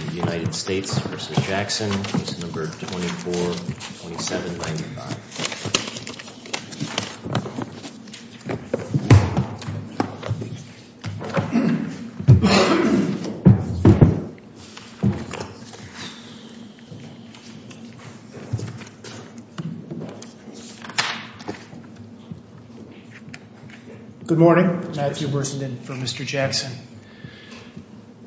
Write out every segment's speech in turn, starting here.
24-27-95 Good morning, Matthew Bersenden for Mr. Jackson.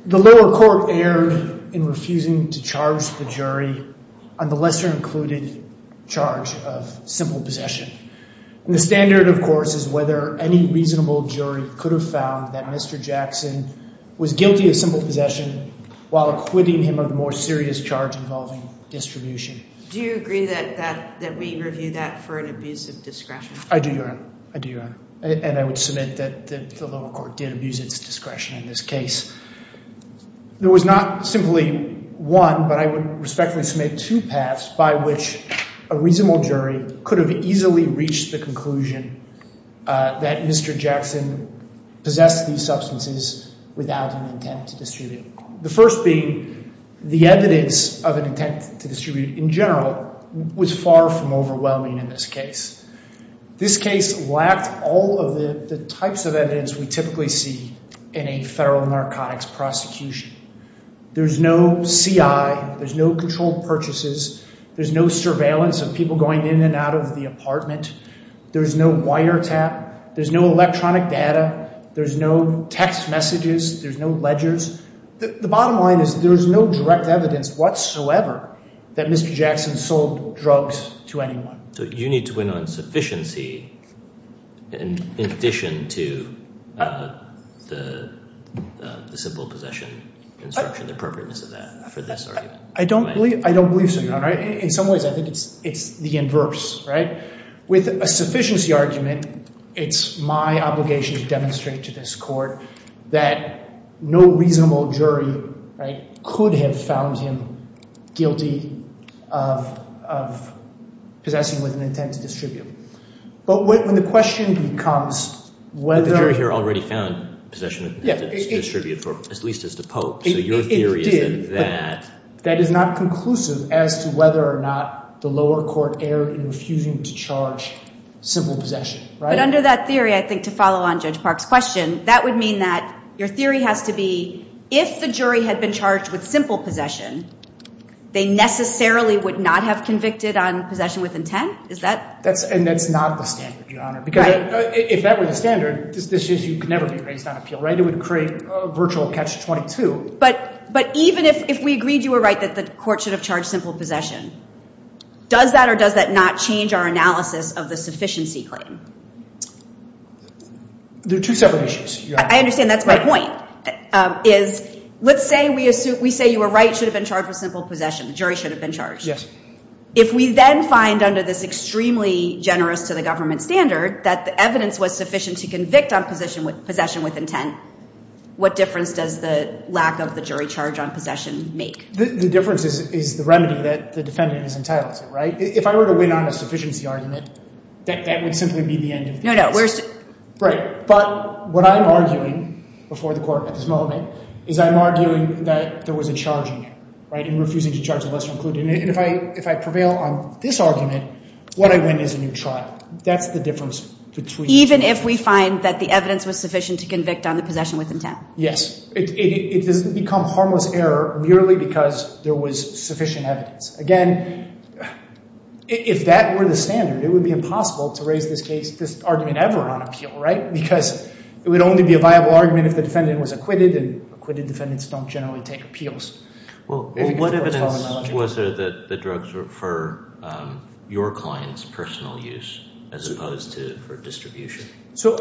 The lower court erred in refusing to charge the jury on the lesser-included charge of simple possession. And the standard, of course, is whether any reasonable jury could have found that Mr. Jackson was guilty of simple possession while acquitting him of a more serious charge involving distribution. Do you agree that we review that for an abuse of discretion? I do, Your Honor. I do, Your Honor. And I would submit that the lower court did abuse its discretion in this case. There was not simply one, but I would respectfully submit two paths by which a reasonable jury could have easily reached the conclusion that Mr. Jackson possessed these substances without an intent to distribute. The first being the evidence of an intent to distribute in general was far from overwhelming in this case. This case lacked all of the types of evidence we typically see in a federal narcotics prosecution. There's no CI, there's no controlled purchases, there's no surveillance of people going in and out of the apartment, there's no wiretap, there's no electronic data, there's no text messages, there's no ledgers. The bottom line is there's no direct evidence whatsoever that Mr. Jackson sold drugs to anyone. So you need to win on sufficiency in addition to the simple possession instruction, the appropriateness of that for this argument? I don't believe so, Your Honor. In some ways, I think it's the inverse, right? With a sufficiency argument, it's my obligation to demonstrate to this court that no reasonable possession with an intent to distribute. But when the question becomes whether- But the jury here already found possession with an intent to distribute, at least as to Pope. So your theory is that- That is not conclusive as to whether or not the lower court erred in refusing to charge simple possession, right? But under that theory, I think to follow on Judge Park's question, that would mean that your theory has to be if the jury had been charged with simple possession, they necessarily would not have convicted on possession with intent? Is that- And that's not the standard, Your Honor. Because if that were the standard, this issue could never be raised on appeal, right? It would create virtual catch-22. But even if we agreed you were right that the court should have charged simple possession, does that or does that not change our analysis of the sufficiency claim? They're two separate issues, Your Honor. I understand. That's my point, is let's say we say you were right, should have been charged with simple possession. The jury should have been charged. If we then find under this extremely generous-to-the-government standard that the evidence was sufficient to convict on possession with intent, what difference does the lack of the jury charge on possession make? The difference is the remedy that the defendant is entitled to, right? If I were to win on a sufficiency argument, that would simply be the end of the case. No, no. Where's the- Right. But what I'm arguing before the court at this moment is I'm arguing that there was a charge in refusing to charge a lesser-included. And if I prevail on this argument, what I win is a new trial. That's the difference between- Even if we find that the evidence was sufficient to convict on the possession with intent? Yes. It doesn't become harmless error merely because there was sufficient evidence. Again, if that were the standard, it would be impossible to raise this case, this argument ever on appeal, right? Because it would only be a viable argument if the defendant was acquitted, and acquitted defendants don't generally take appeals. Well, what evidence was there that the drugs were for your client's personal use as opposed to for distribution? So,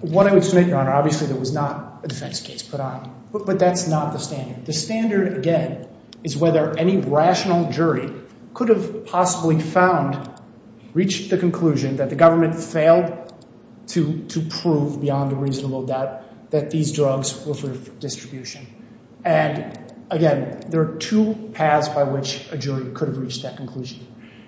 what I would submit, Your Honor, obviously there was not a defense case put on. But that's not the standard. The standard, again, is whether any rational jury could have possibly found, reached the conclusion that the government failed to prove beyond a reasonable doubt that these drugs were for distribution. And, again, there are two paths by which a jury could have reached that conclusion.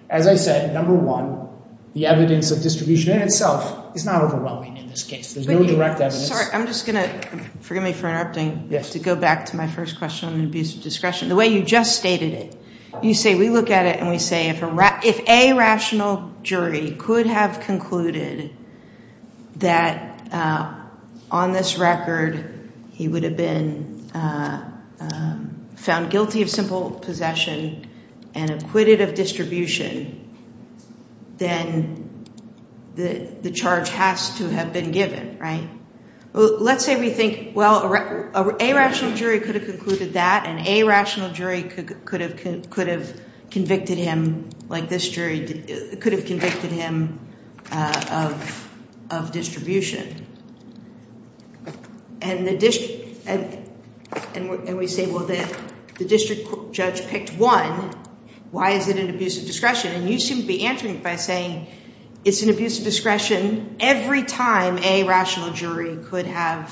As I said, number one, the evidence of distribution in itself is not overwhelming in this case. There's no direct evidence. I'm just going to, forgive me for interrupting, to go back to my first question on abuse of The way you just stated it, you say we look at it and we say if a rational jury could have concluded that on this record he would have been found guilty of simple possession and acquitted of distribution, then the charge has to have been given, right? Well, let's say we think, well, a rational jury could have concluded that, and a rational jury could have convicted him, like this jury could have convicted him of distribution. And we say, well, the district judge picked one. Why is it an abuse of discretion? And you seem to be answering it by saying it's an abuse of discretion every time a rational jury could have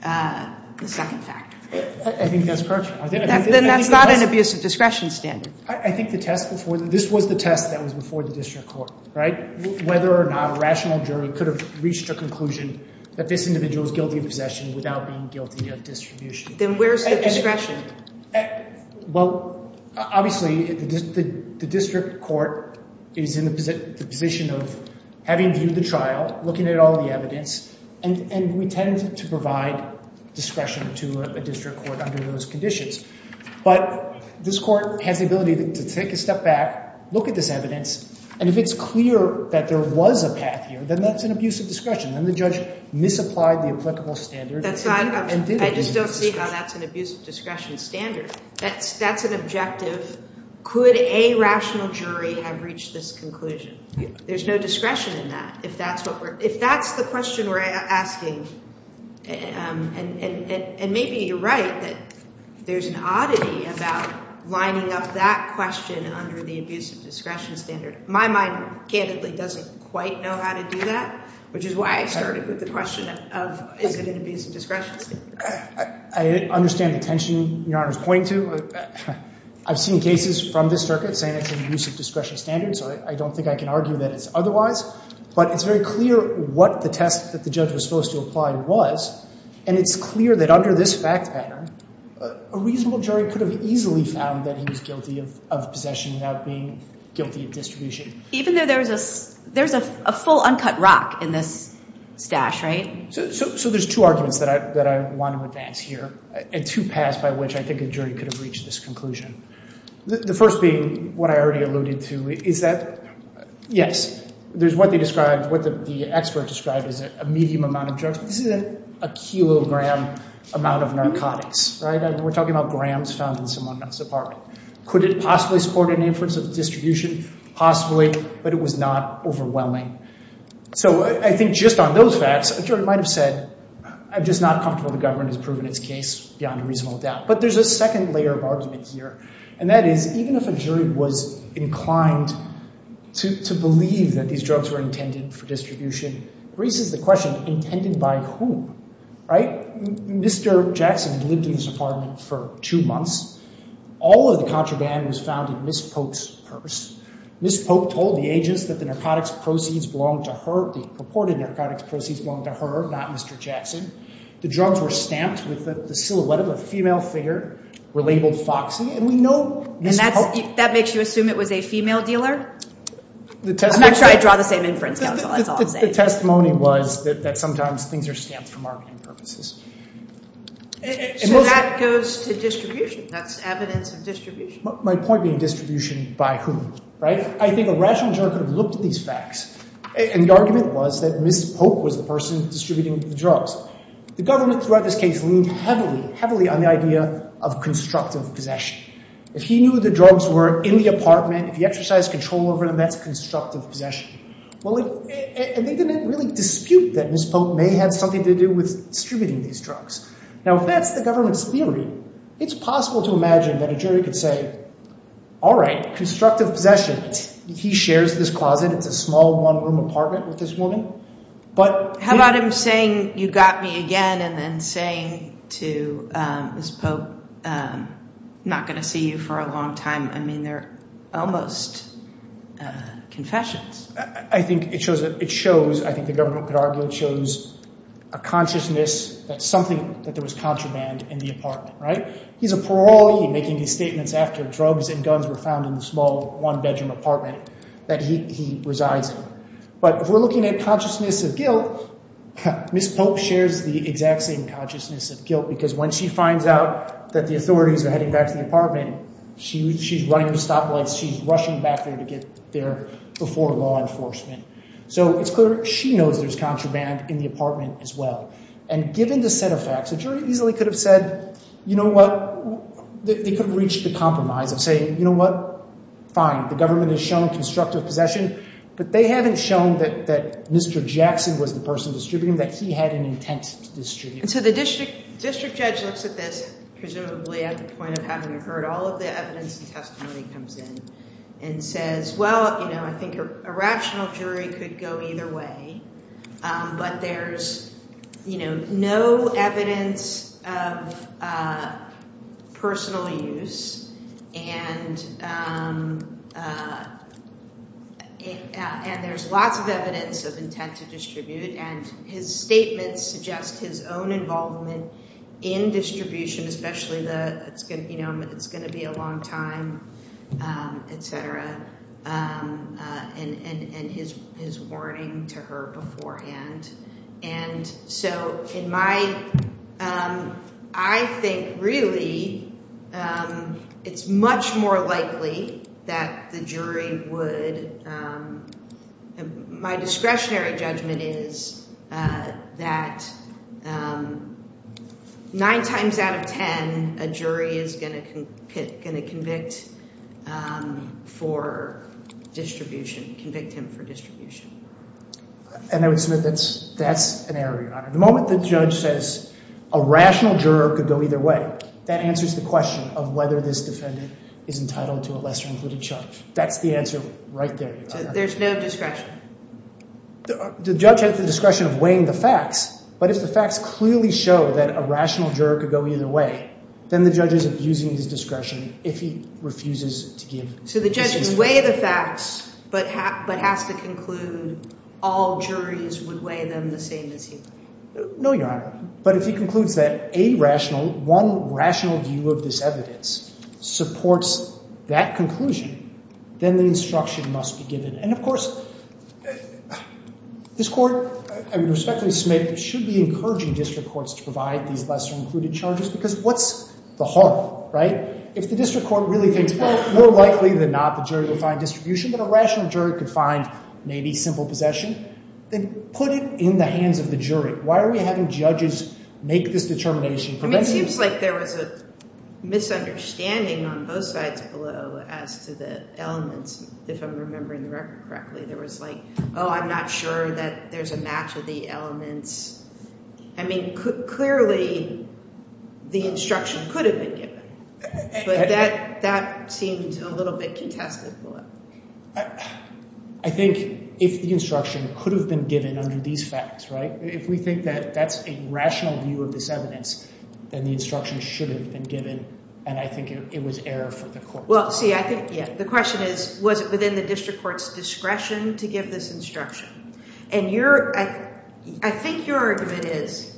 the second factor. I think that's correct. Then that's not an abuse of discretion standard. I think the test before, this was the test that was before the district court, right? Whether or not a rational jury could have reached a conclusion that this individual is guilty of possession without being guilty of distribution. Then where's the discretion? Well, obviously, the district court is in the position of having viewed the trial, looking at all the evidence, and we tend to provide discretion to a district court under those conditions, but this court has the ability to take a step back, look at this evidence, and if it's clear that there was a path here, then that's an abuse of discretion. Then the judge misapplied the applicable standard. I just don't see how that's an abuse of discretion standard. That's an objective. Could a rational jury have reached this conclusion? There's no discretion in that. If that's the question we're asking, and maybe you're right, that there's an oddity about lining up that question under the abuse of discretion standard. My mind, candidly, doesn't quite know how to do that, which is why I started with the question of is it an abuse of discretion standard. I understand the tension Your Honor's pointing to. I've seen cases from this circuit saying it's an abuse of discretion standard, so I don't think I can argue that it's otherwise. But it's very clear what the test that the judge was supposed to apply was, and it's clear that under this fact pattern, a reasonable jury could have easily found that he was guilty of possession without being guilty of distribution. Even though there's a full uncut rock in this stash, right? So there's two arguments that I want to advance here, and two paths by which I think a jury could have reached this conclusion. The first being what I already alluded to, is that, yes, there's what they described, what the expert described as a medium amount of drugs. This isn't a kilogram amount of narcotics, right? We're talking about grams found in someone else's apartment. Could it possibly support an inference of distribution? Possibly, but it was not overwhelming. So I think just on those facts, a jury might have said, I'm just not comfortable the government has proven its case beyond a reasonable doubt. But there's a second layer of argument here, and that is, even if a jury was inclined to believe that these drugs were intended for distribution, raises the question, intended by whom, right? Mr. Jackson had lived in this apartment for two months. All of the contraband was found in Ms. Polk's purse. Ms. Polk told the agents that the narcotics proceeds belonged to her, the purported narcotics proceeds belonged to her, not Mr. Jackson. The drugs were stamped with the silhouette of a female figure, were labeled Foxy, and we know Ms. Polk... And that makes you assume it was a female dealer? I'm not sure I'd draw the same inference, Counsel, that's all I'm saying. The testimony was that sometimes things are stamped for marketing purposes. So that goes to distribution. That's evidence of distribution. My point being distribution by whom, right? I think a rational juror could have looked at these facts, and the argument was that Ms. Polk was the person distributing the drugs. The government throughout this case leaned heavily, heavily, on the idea of constructive possession. If he knew the drugs were in the apartment, if he exercised control over them, that's constructive possession. And they didn't really dispute that Ms. Polk may have something to do with distributing these drugs. Now, if that's the government's theory, it's possible to imagine that a jury could say, all right, constructive possession, he shares this closet, it's a small one-room apartment with this woman, but... How about him saying, you got me again, and then saying to Ms. Polk, I'm not going to see you for a long time. I mean, they're almost confessions. I think it shows, I think the government could argue, it shows a consciousness that something, that there was contraband in the apartment, right? He's a parolee, he's making these statements after drugs and guns were found in the small one-bedroom apartment that he resides in. But if we're looking at consciousness of guilt, Ms. Polk shares the exact same consciousness of guilt, because when she finds out that the authorities are heading back to the apartment, she's running the stoplights, she's rushing back there to get there before law enforcement. So it's clear she knows there's contraband in the apartment as well. And given the set of facts, a jury easily could have said, you know what, they could have reached the compromise of saying, you know what, fine, the government has shown constructive possession, but they haven't shown that Mr. Jackson was the person distributing them, that he had an intent to distribute them. And so the district judge looks at this, presumably at the point of having heard all of the evidence and testimony comes in and says, well, you know, I think a rational jury could go either way, but there's, you know, no evidence of personal use and there's lots of evidence of intent to distribute, and his statements suggest his own involvement in distribution, especially the, you know, it's going to be a long time, etc., and his warning to her beforehand. And so in my, I think really it's much more likely that the jury would, my discretionary judgment is that nine times out of 10, a jury is going to convict for distribution, convict him for distribution. And I would submit that's an error, Your Honor. The moment the judge says a rational juror could go either way, that answers the question of whether this defendant is entitled to a lesser included charge. That's the answer right there, Your Honor. So there's no discretion? The judge has the discretion of weighing the facts, but if the facts clearly show that a rational juror could go either way, then the judge is abusing his discretion if he refuses to give... So the judge can weigh the facts, but has to conclude all juries would weigh them the same as he would. No, Your Honor, but if he concludes that a rational, one rational view of this evidence supports that conclusion, then the instruction must be given. And of course, this Court, I would respectfully submit, should be encouraging district courts to provide these lesser included charges, because what's the harm, right? If the district court really thinks that it's more likely than not the jury will find distribution, but a rational juror could find maybe simple possession, then put it in the hands of the jury. Why are we having judges make this determination? I mean, it seems like there was a misunderstanding on both sides below as to the elements, if I'm remembering the record correctly. There was like, oh, I'm not sure that there's a match of the elements. I mean, clearly the instruction could have been given. But that seemed a little bit contested. I think if the instruction could have been given under these facts, right? If we think that that's a rational view of this evidence, then the instruction should have been given. And I think it was error for the Court. Well, see, I think, yeah, the question is, was it within the district court's discretion to give this instruction? And your, I think your argument is,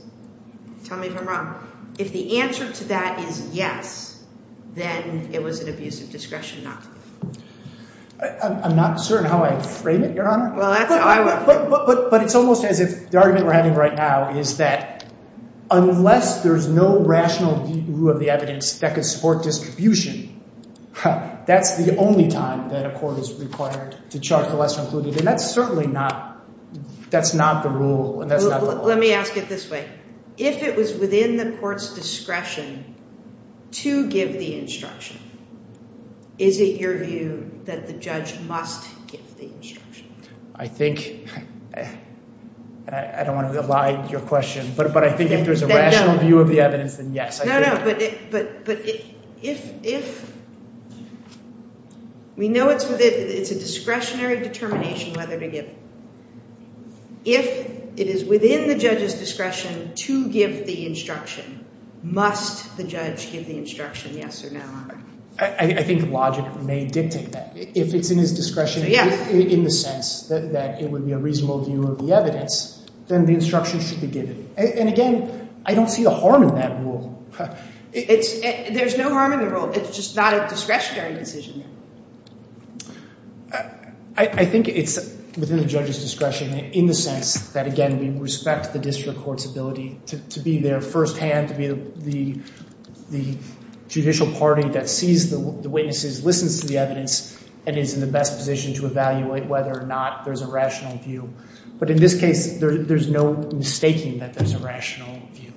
tell me if I'm wrong, if the answer to that is yes, then it was an abusive discretion not to. I'm not certain how I frame it, Your Honor. But it's almost as if the argument we're having right now is that unless there's no rational view of the evidence that could support distribution, that's the only time that a court is required to chart the lesser included. And that's certainly not, that's not the rule. Let me ask it this way. If it was within the court's discretion to give the instruction, is it your view that the judge must give the instruction? I think, I don't want to lie to your question, but I think if there's a rational view of the evidence, then yes. No, no, but if, we know it's within, it's a discretionary determination whether to give. If it is within the judge's discretion to give the instruction, must the judge give the instruction, yes or no? I think logic may dictate that. If it's in his discretion in the sense that it would be a reasonable view of the evidence, then the instruction should be given. And again, I don't see the harm in that rule. There's no harm in the rule. It's just not a discretionary decision. I think it's within the judge's discretion in the sense that, again, we respect the district court's ability to be there firsthand, to be the judicial party that sees the witnesses, listens to the evidence, and is in the best position to evaluate whether or not there's a rational view. But in this case, there's no mistaking that there's a rational view.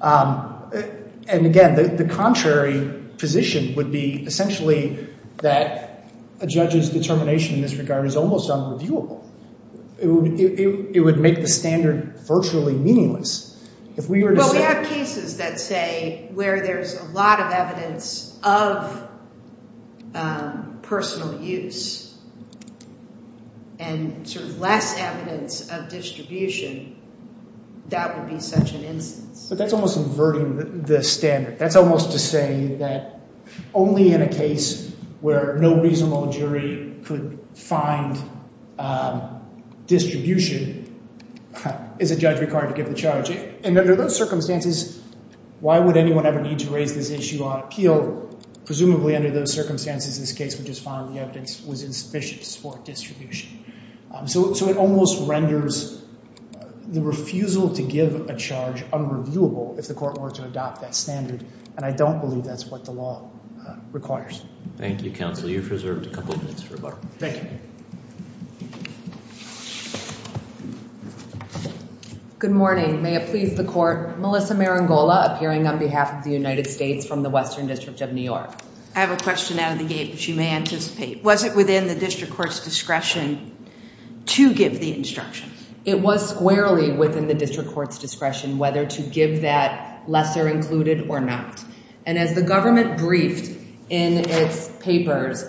And again, the contrary position would be essentially that a judge's determination in this regard is almost unreviewable. It would make the standard virtually meaningless. Well, we have cases that say where there's a lot of evidence of personal use and sort of less evidence of distribution, that would be such an instance. But that's almost inverting the standard. That's almost to say that only in a case where no reasonable jury could find distribution is a judge required to give the charge. And under those circumstances, why would anyone ever need to raise this issue on appeal? Presumably under those circumstances, this case would just find the evidence was insufficient to support distribution. So it almost renders the refusal to give a charge unreviewable if the court were to adopt that standard. And I don't believe that's what the law requires. Thank you, counsel. You've reserved a couple of minutes for rebuttal. Good morning. May it please the court. Melissa Marangola appearing on behalf of the United States from the Western District of New York. I have a question out of the gate, which you may anticipate. Was it within the district court's discretion to give the instructions? It was squarely within the district court's discretion whether to give that lesser included or not. And as the government briefed in its papers,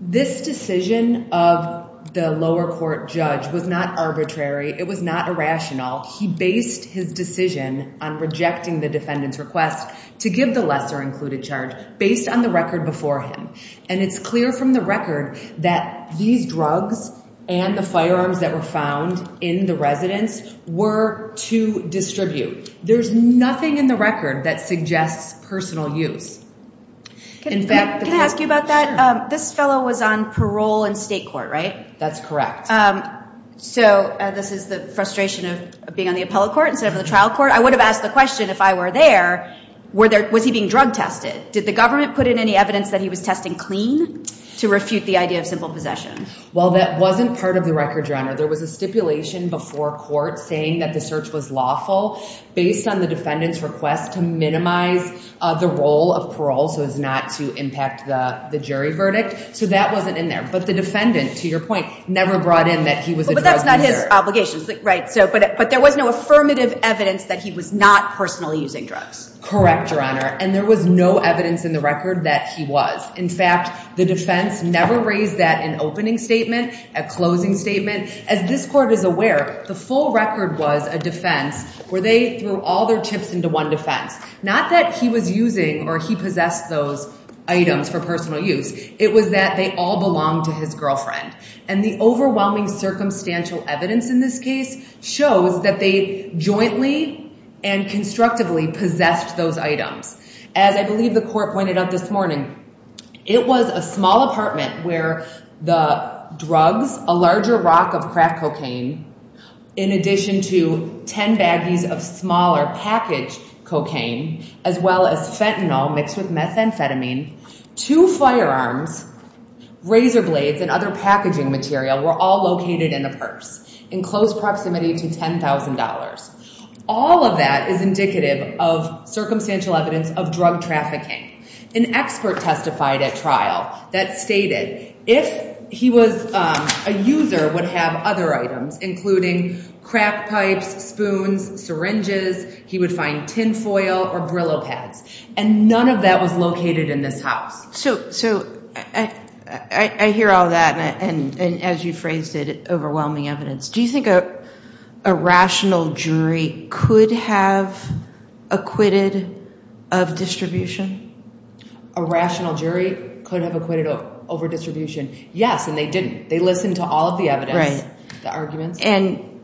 this decision of the lower court judge was not arbitrary. It was not irrational. He based his decision on rejecting the defendant's request to give the lesser included charge based on the record before him. And it's clear from the record that these drugs and the firearms that were found in the residence were to distribute. There's nothing in the record that suggests personal use. Can I ask you about that? This fellow was on parole in state court, right? That's correct. So this is the frustration of being on the appellate court instead of the trial court. I would have asked the question if I were there, was he being drug tested? Did the government put in any evidence that he was testing clean to refute the idea of simple possession? Well, that wasn't part of the record, Your Honor. There was a stipulation before court saying that the search was lawful based on the defendant's request to minimize the role of parole so as not to impact the jury verdict. So that wasn't in there. But the defendant, to your point, never brought in that he was a drug user. But that's not his obligation. But there was no affirmative evidence that he was not personally using drugs. Correct, Your Honor. And there was no evidence in the record that he was. In fact, the defense never raised that in opening statement, at closing statement. As this court is aware, the full record was a defense where they threw all their chips into one defense. Not that he was using or he possessed those items for personal use. It was that they all belonged to his girlfriend. And the overwhelming circumstantial evidence in this case shows that they jointly and constructively possessed those items. As I believe the court pointed out this morning, it was a small apartment where the drugs, a larger rock of crack cocaine, in addition to 10 baggies of smaller packaged cocaine, as well as fentanyl mixed with methamphetamine, two firearms, razor blades, and other packaging material were all located in a purse. In close proximity to $10,000. All of that is indicative of circumstantial evidence of drug trafficking. An expert testified at trial that stated, if he was a user would have other items, including crack pipes, spoons, syringes, he would find tin foil or Brillo pads. And none of that was located in this house. So, I hear all that and as you phrased it, overwhelming evidence. Do you think a rational jury could have acquitted of distribution? A rational jury could have acquitted over distribution. Yes, and they didn't. They listened to all of the evidence, the arguments. And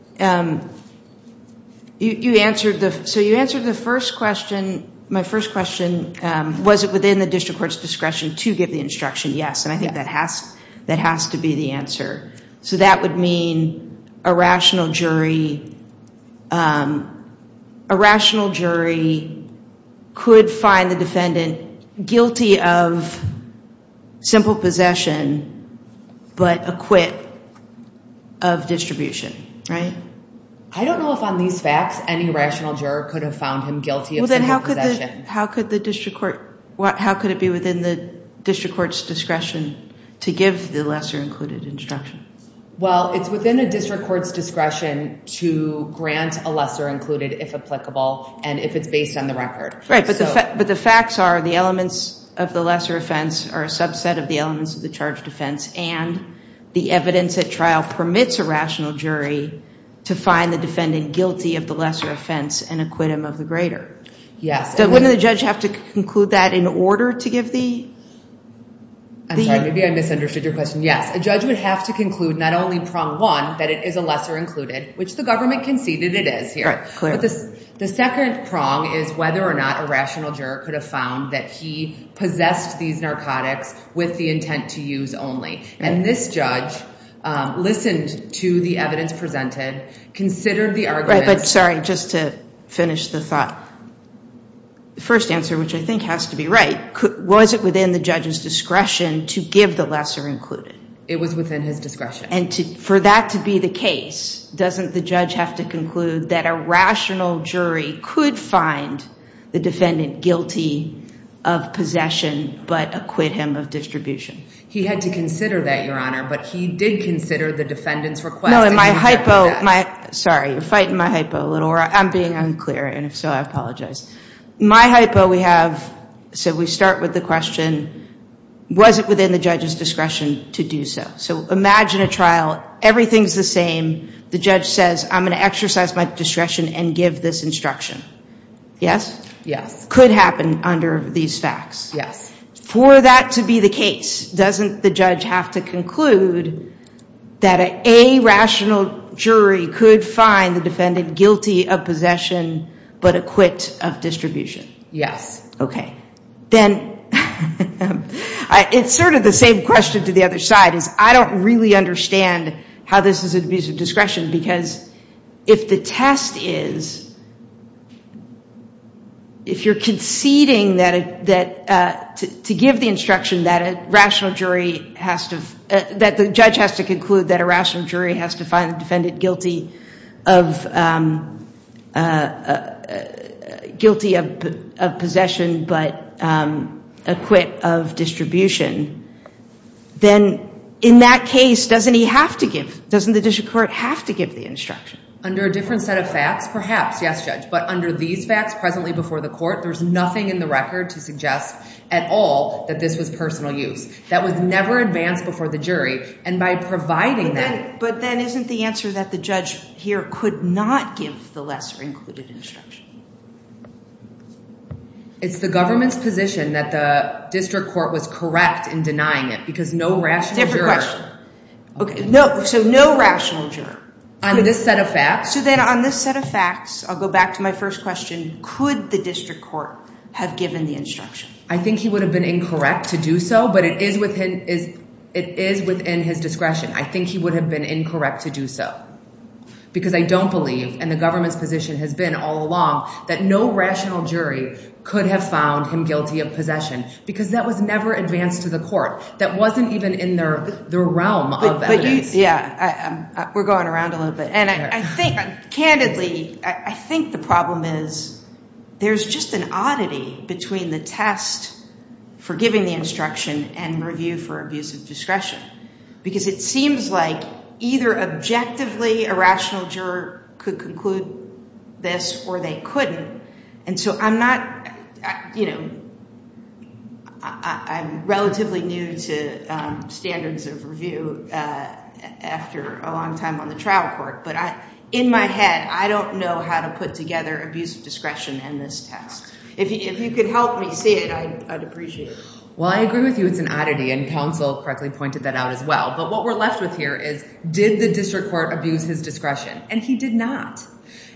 you answered the first question, my first question, was it within the district court's discretion to give the instruction? Yes, and I think that has to be the answer. So, that would mean a rational jury, a rational jury could find the defendant guilty of simple possession, but acquit of distribution, right? I don't know if on these facts, any rational juror could have found him guilty of simple possession. How could the district court, how could it be within the district court's discretion to give the lesser included instruction? Well, it's within a district court's discretion to grant a lesser included if applicable, and if it's based on the record. Right, but the facts are, the elements of the lesser offense are a subset of the elements of the charge defense, and the evidence at trial permits a rational jury to find the defendant guilty of the lesser offense and acquit him of the greater. So, wouldn't the judge have to conclude that in order to give the... I'm sorry, maybe I misunderstood your question. Yes, a judge would have to conclude, not only prong one, that it is a lesser included, which the government conceded it is here. Right, clear. The second prong is whether or not a rational juror could have found that he possessed these narcotics with the intent to use only. And this judge listened to the evidence presented, considered the arguments... Right, but sorry, just to finish the thought. The first answer, which I think has to be right, was it within the judge's discretion to give the lesser included? It was within his discretion. And for that to be the case, doesn't the judge have to conclude that a rational jury could find the defendant guilty of possession, but acquit him of distribution? He had to consider that, Your Honor, but he did consider the defendant's request. No, and my hypo... Sorry, you're fighting my hypo a little. I'm being unclear, and if so, I apologize. My hypo, we have... So we start with the question, was it within the judge's discretion to do so? So imagine a trial. Everything's the same. The judge says, I'm going to exercise my discretion and give this instruction. Yes? Yes. Could happen under these facts. Yes. For that to be the case, doesn't the judge have to conclude that a rational jury could find the defendant guilty of possession, but acquit him of distribution? Yes. Then, it's sort of the same question to the other side, is I don't really understand how this is an abuse of discretion because if the test is, if you're conceding that... to give the instruction that a rational jury has to... that the judge has to conclude that a rational jury has to find the defendant guilty of... guilty of possession, but acquit of distribution, then in that case, doesn't he have to give, doesn't the district court have to give the instruction? Under a different set of facts, perhaps, yes, Judge, but under these facts, presently before the court, there's nothing in the record to suggest at all that this was personal use. That was never advanced before the jury and by providing that... the judge here could not give the lesser included instruction. It's the government's position that the district court was correct in denying it because no rational juror... Different question. No, so no rational juror. On this set of facts... So then, on this set of facts, I'll go back to my first question, could the district court have given the instruction? I think he would have been incorrect to do so, but it is within his discretion. I think he would have been incorrect to do so because I don't believe, and the government's position has been all along, that no rational jury could have found him guilty of possession because that was never advanced to the court. That wasn't even in the realm of evidence. We're going around a little bit and I think, candidly, I think the problem is we don't have the instruction and review for abuse of discretion because it seems like either objectively a rational juror could conclude this or they couldn't and so I'm not... I'm relatively new to standards of review after a long time on the trial court, but in my head, I don't know how to put together abuse of discretion in this test. If you could help me see it, I'd appreciate it. Well, I agree with you. It's an oddity and counsel correctly pointed that out as well, but what we're left with here is did the district court abuse his discretion? And he did not.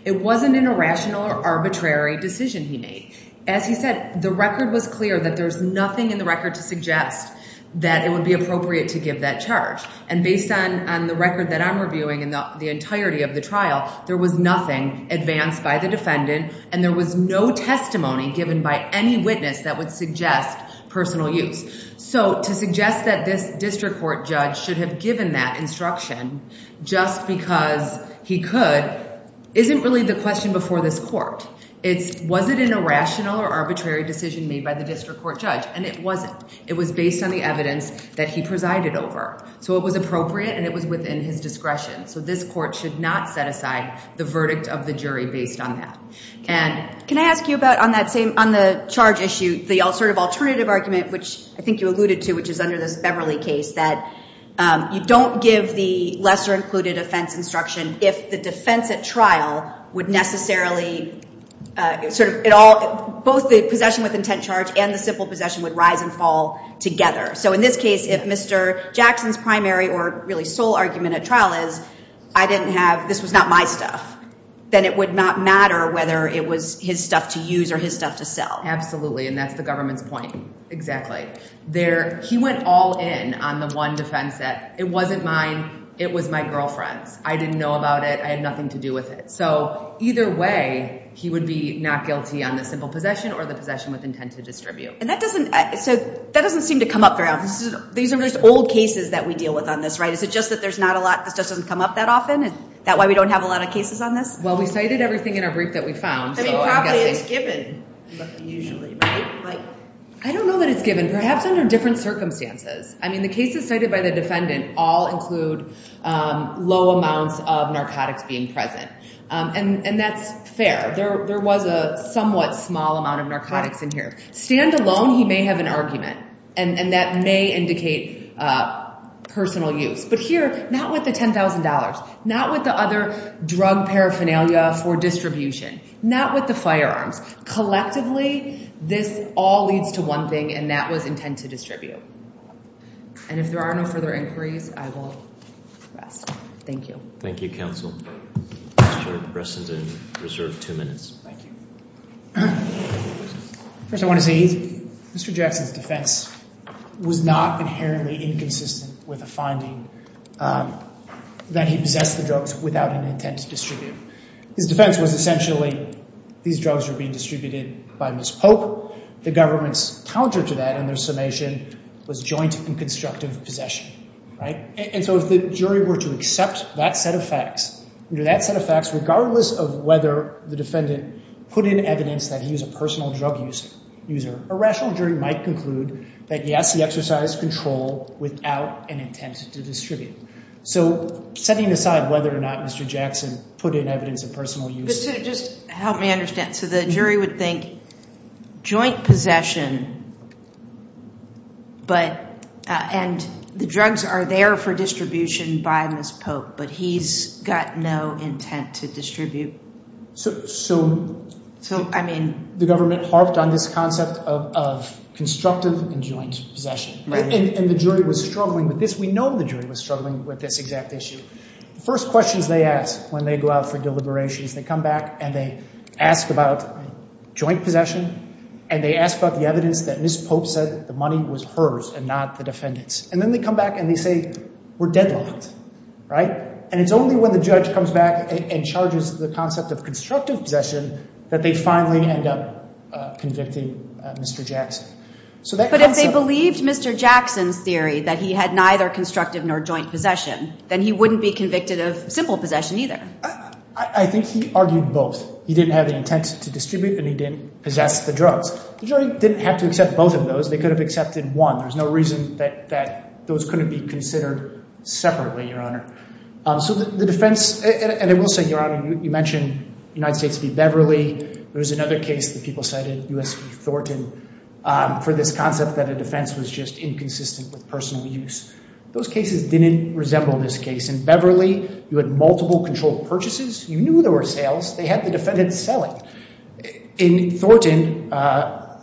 It wasn't an irrational or arbitrary decision he made. As he said, the record was clear that there's nothing in the record to suggest that it would be appropriate to give that charge and based on the record that I'm reviewing and the entirety of the trial, there was nothing advanced by the defendant and there was no testimony given by any witness that would suggest personal use. So to suggest that this district court judge should have given that instruction just because he could isn't really the question but it wasn't. It was based on the evidence that he presided over. So it was appropriate and it was within his discretion. So this court should not set aside the verdict of the jury based on that. Can I ask you about on the charge issue, the alternative argument which I think you alluded to which is under this Beverly case that you don't give the lesser included offense instruction if the defense at trial doesn't fall together. So in this case, if Mr. Jackson's primary or really sole argument at trial is I didn't have, this was not my stuff, then it would not matter whether it was his stuff to use or his stuff to sell. And that's the government's point. Exactly. He went all in on the one defense that it wasn't mine, it was my girlfriend's. I didn't know about it. I had nothing to do with it. So either way, he would be not guilty on the simple possession or the possession with intent to distribute. And that doesn't, that doesn't seem to come up throughout. These are just old cases that we deal with on this, right? Is it just that there's not a lot, this just doesn't come up that often and that why we don't have a lot of cases on this? Well, we cited everything in our brief that we found. I mean, probably it's given, usually, right? I don't know that it's given, perhaps under different circumstances. I mean, the cases cited by the defendant all include low amounts of narcotics being present. And that's fair. There was a somewhat small amount of narcotics in here. Standalone, he may have an argument and that may indicate personal use. But here, not with the $10,000, not with the other drug paraphernalia for distribution, not with the firearms. Collectively, this all leads to one thing and that was intent to distribute. And if there are no further inquiries, I will rest. Thank you. Thank you, counsel. Mr. Bresson is in reserve two minutes. Thank you. First, I want to say, Mr. Jackson's defense was not inherently inconsistent that he possessed the drugs without an intent to distribute. His defense was essentially these drugs were being distributed by Ms. Pope. The government's counter to that in their summation was joint and constructive possession, right? And so if the jury were to accept that set of facts, regardless of whether the defendant put in evidence that he was a personal drug user, a rational jury might conclude that, yes, he exercised control So setting aside whether or not Mr. Jackson put in evidence of personal use... Just help me understand. So the jury would think joint possession, but... and the drugs are there for distribution by Ms. Pope, but he's got no intent to distribute. So... So, I mean... The government harped on this concept of constructive and joint possession, right? And the jury was struggling with this. We know the jury was struggling with this exact issue. The first questions they ask when they go out for deliberations, they come back and they ask about joint possession and they ask about the evidence that Ms. Pope said the money was hers and not the defendant's. And then they come back and they say, we're deadlocked, right? And it's only when the judge comes back and charges the concept of constructive possession that they finally end up convicting Mr. Jackson. So that concept... But if they believed Mr. Jackson's theory that he had neither constructive nor joint possession, then he wouldn't be convicted of simple possession either. I think he argued both. He didn't have the intent to distribute and he didn't possess the drugs. The jury didn't have to accept both of those. They could have accepted one. There's no reason that those couldn't be considered separately, Your Honor. So the defense... And I will say, Your Honor, you mentioned United States v. There was another case that people cited, U.S. v. Thornton, for this concept that a defense was just inconsistent with personal use. Those cases didn't resemble this case. In Beverly, you had multiple controlled purchases. You knew there were sales. They had the defendant selling. In Thornton,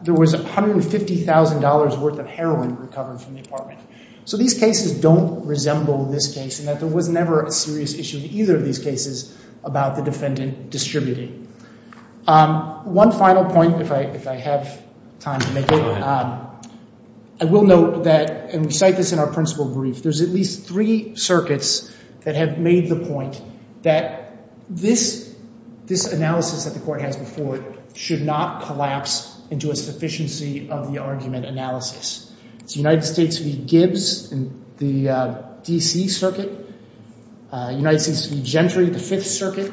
there was $150,000 worth of heroin recovered from the apartment. So these cases don't resemble this case in that there was never a serious issue in either of these cases about the defendant distributing. One final point, if I have time to make it. I will note that, and we cite this in our principal brief, there's at least three circuits that have made the point that this analysis that the court has before it should not collapse into a sufficiency of the argument analysis. It's United States v. Gibbs in the D.C. circuit, United States v. Gentry in the 5th circuit,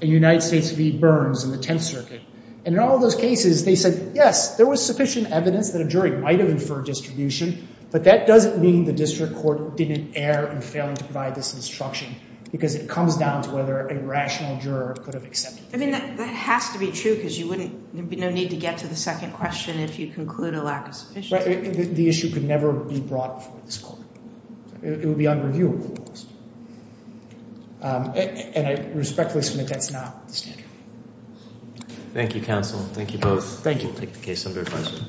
and United States v. Burns in the 10th circuit. And in all those cases, they said, yes, there was sufficient evidence that a jury might have inferred distribution, but that doesn't mean the district court didn't err in failing to provide this instruction because it comes down to whether a rational juror could have accepted it. I mean, that has to be true because you wouldn't, there would be no need to get to the second question if you conclude a lack of sufficiency. The issue could never be brought before this court. It would be unreviewable. And I respectfully submit that's not the standard. Thank you, counsel. Thank you both. Thank you. We'll take the case under review.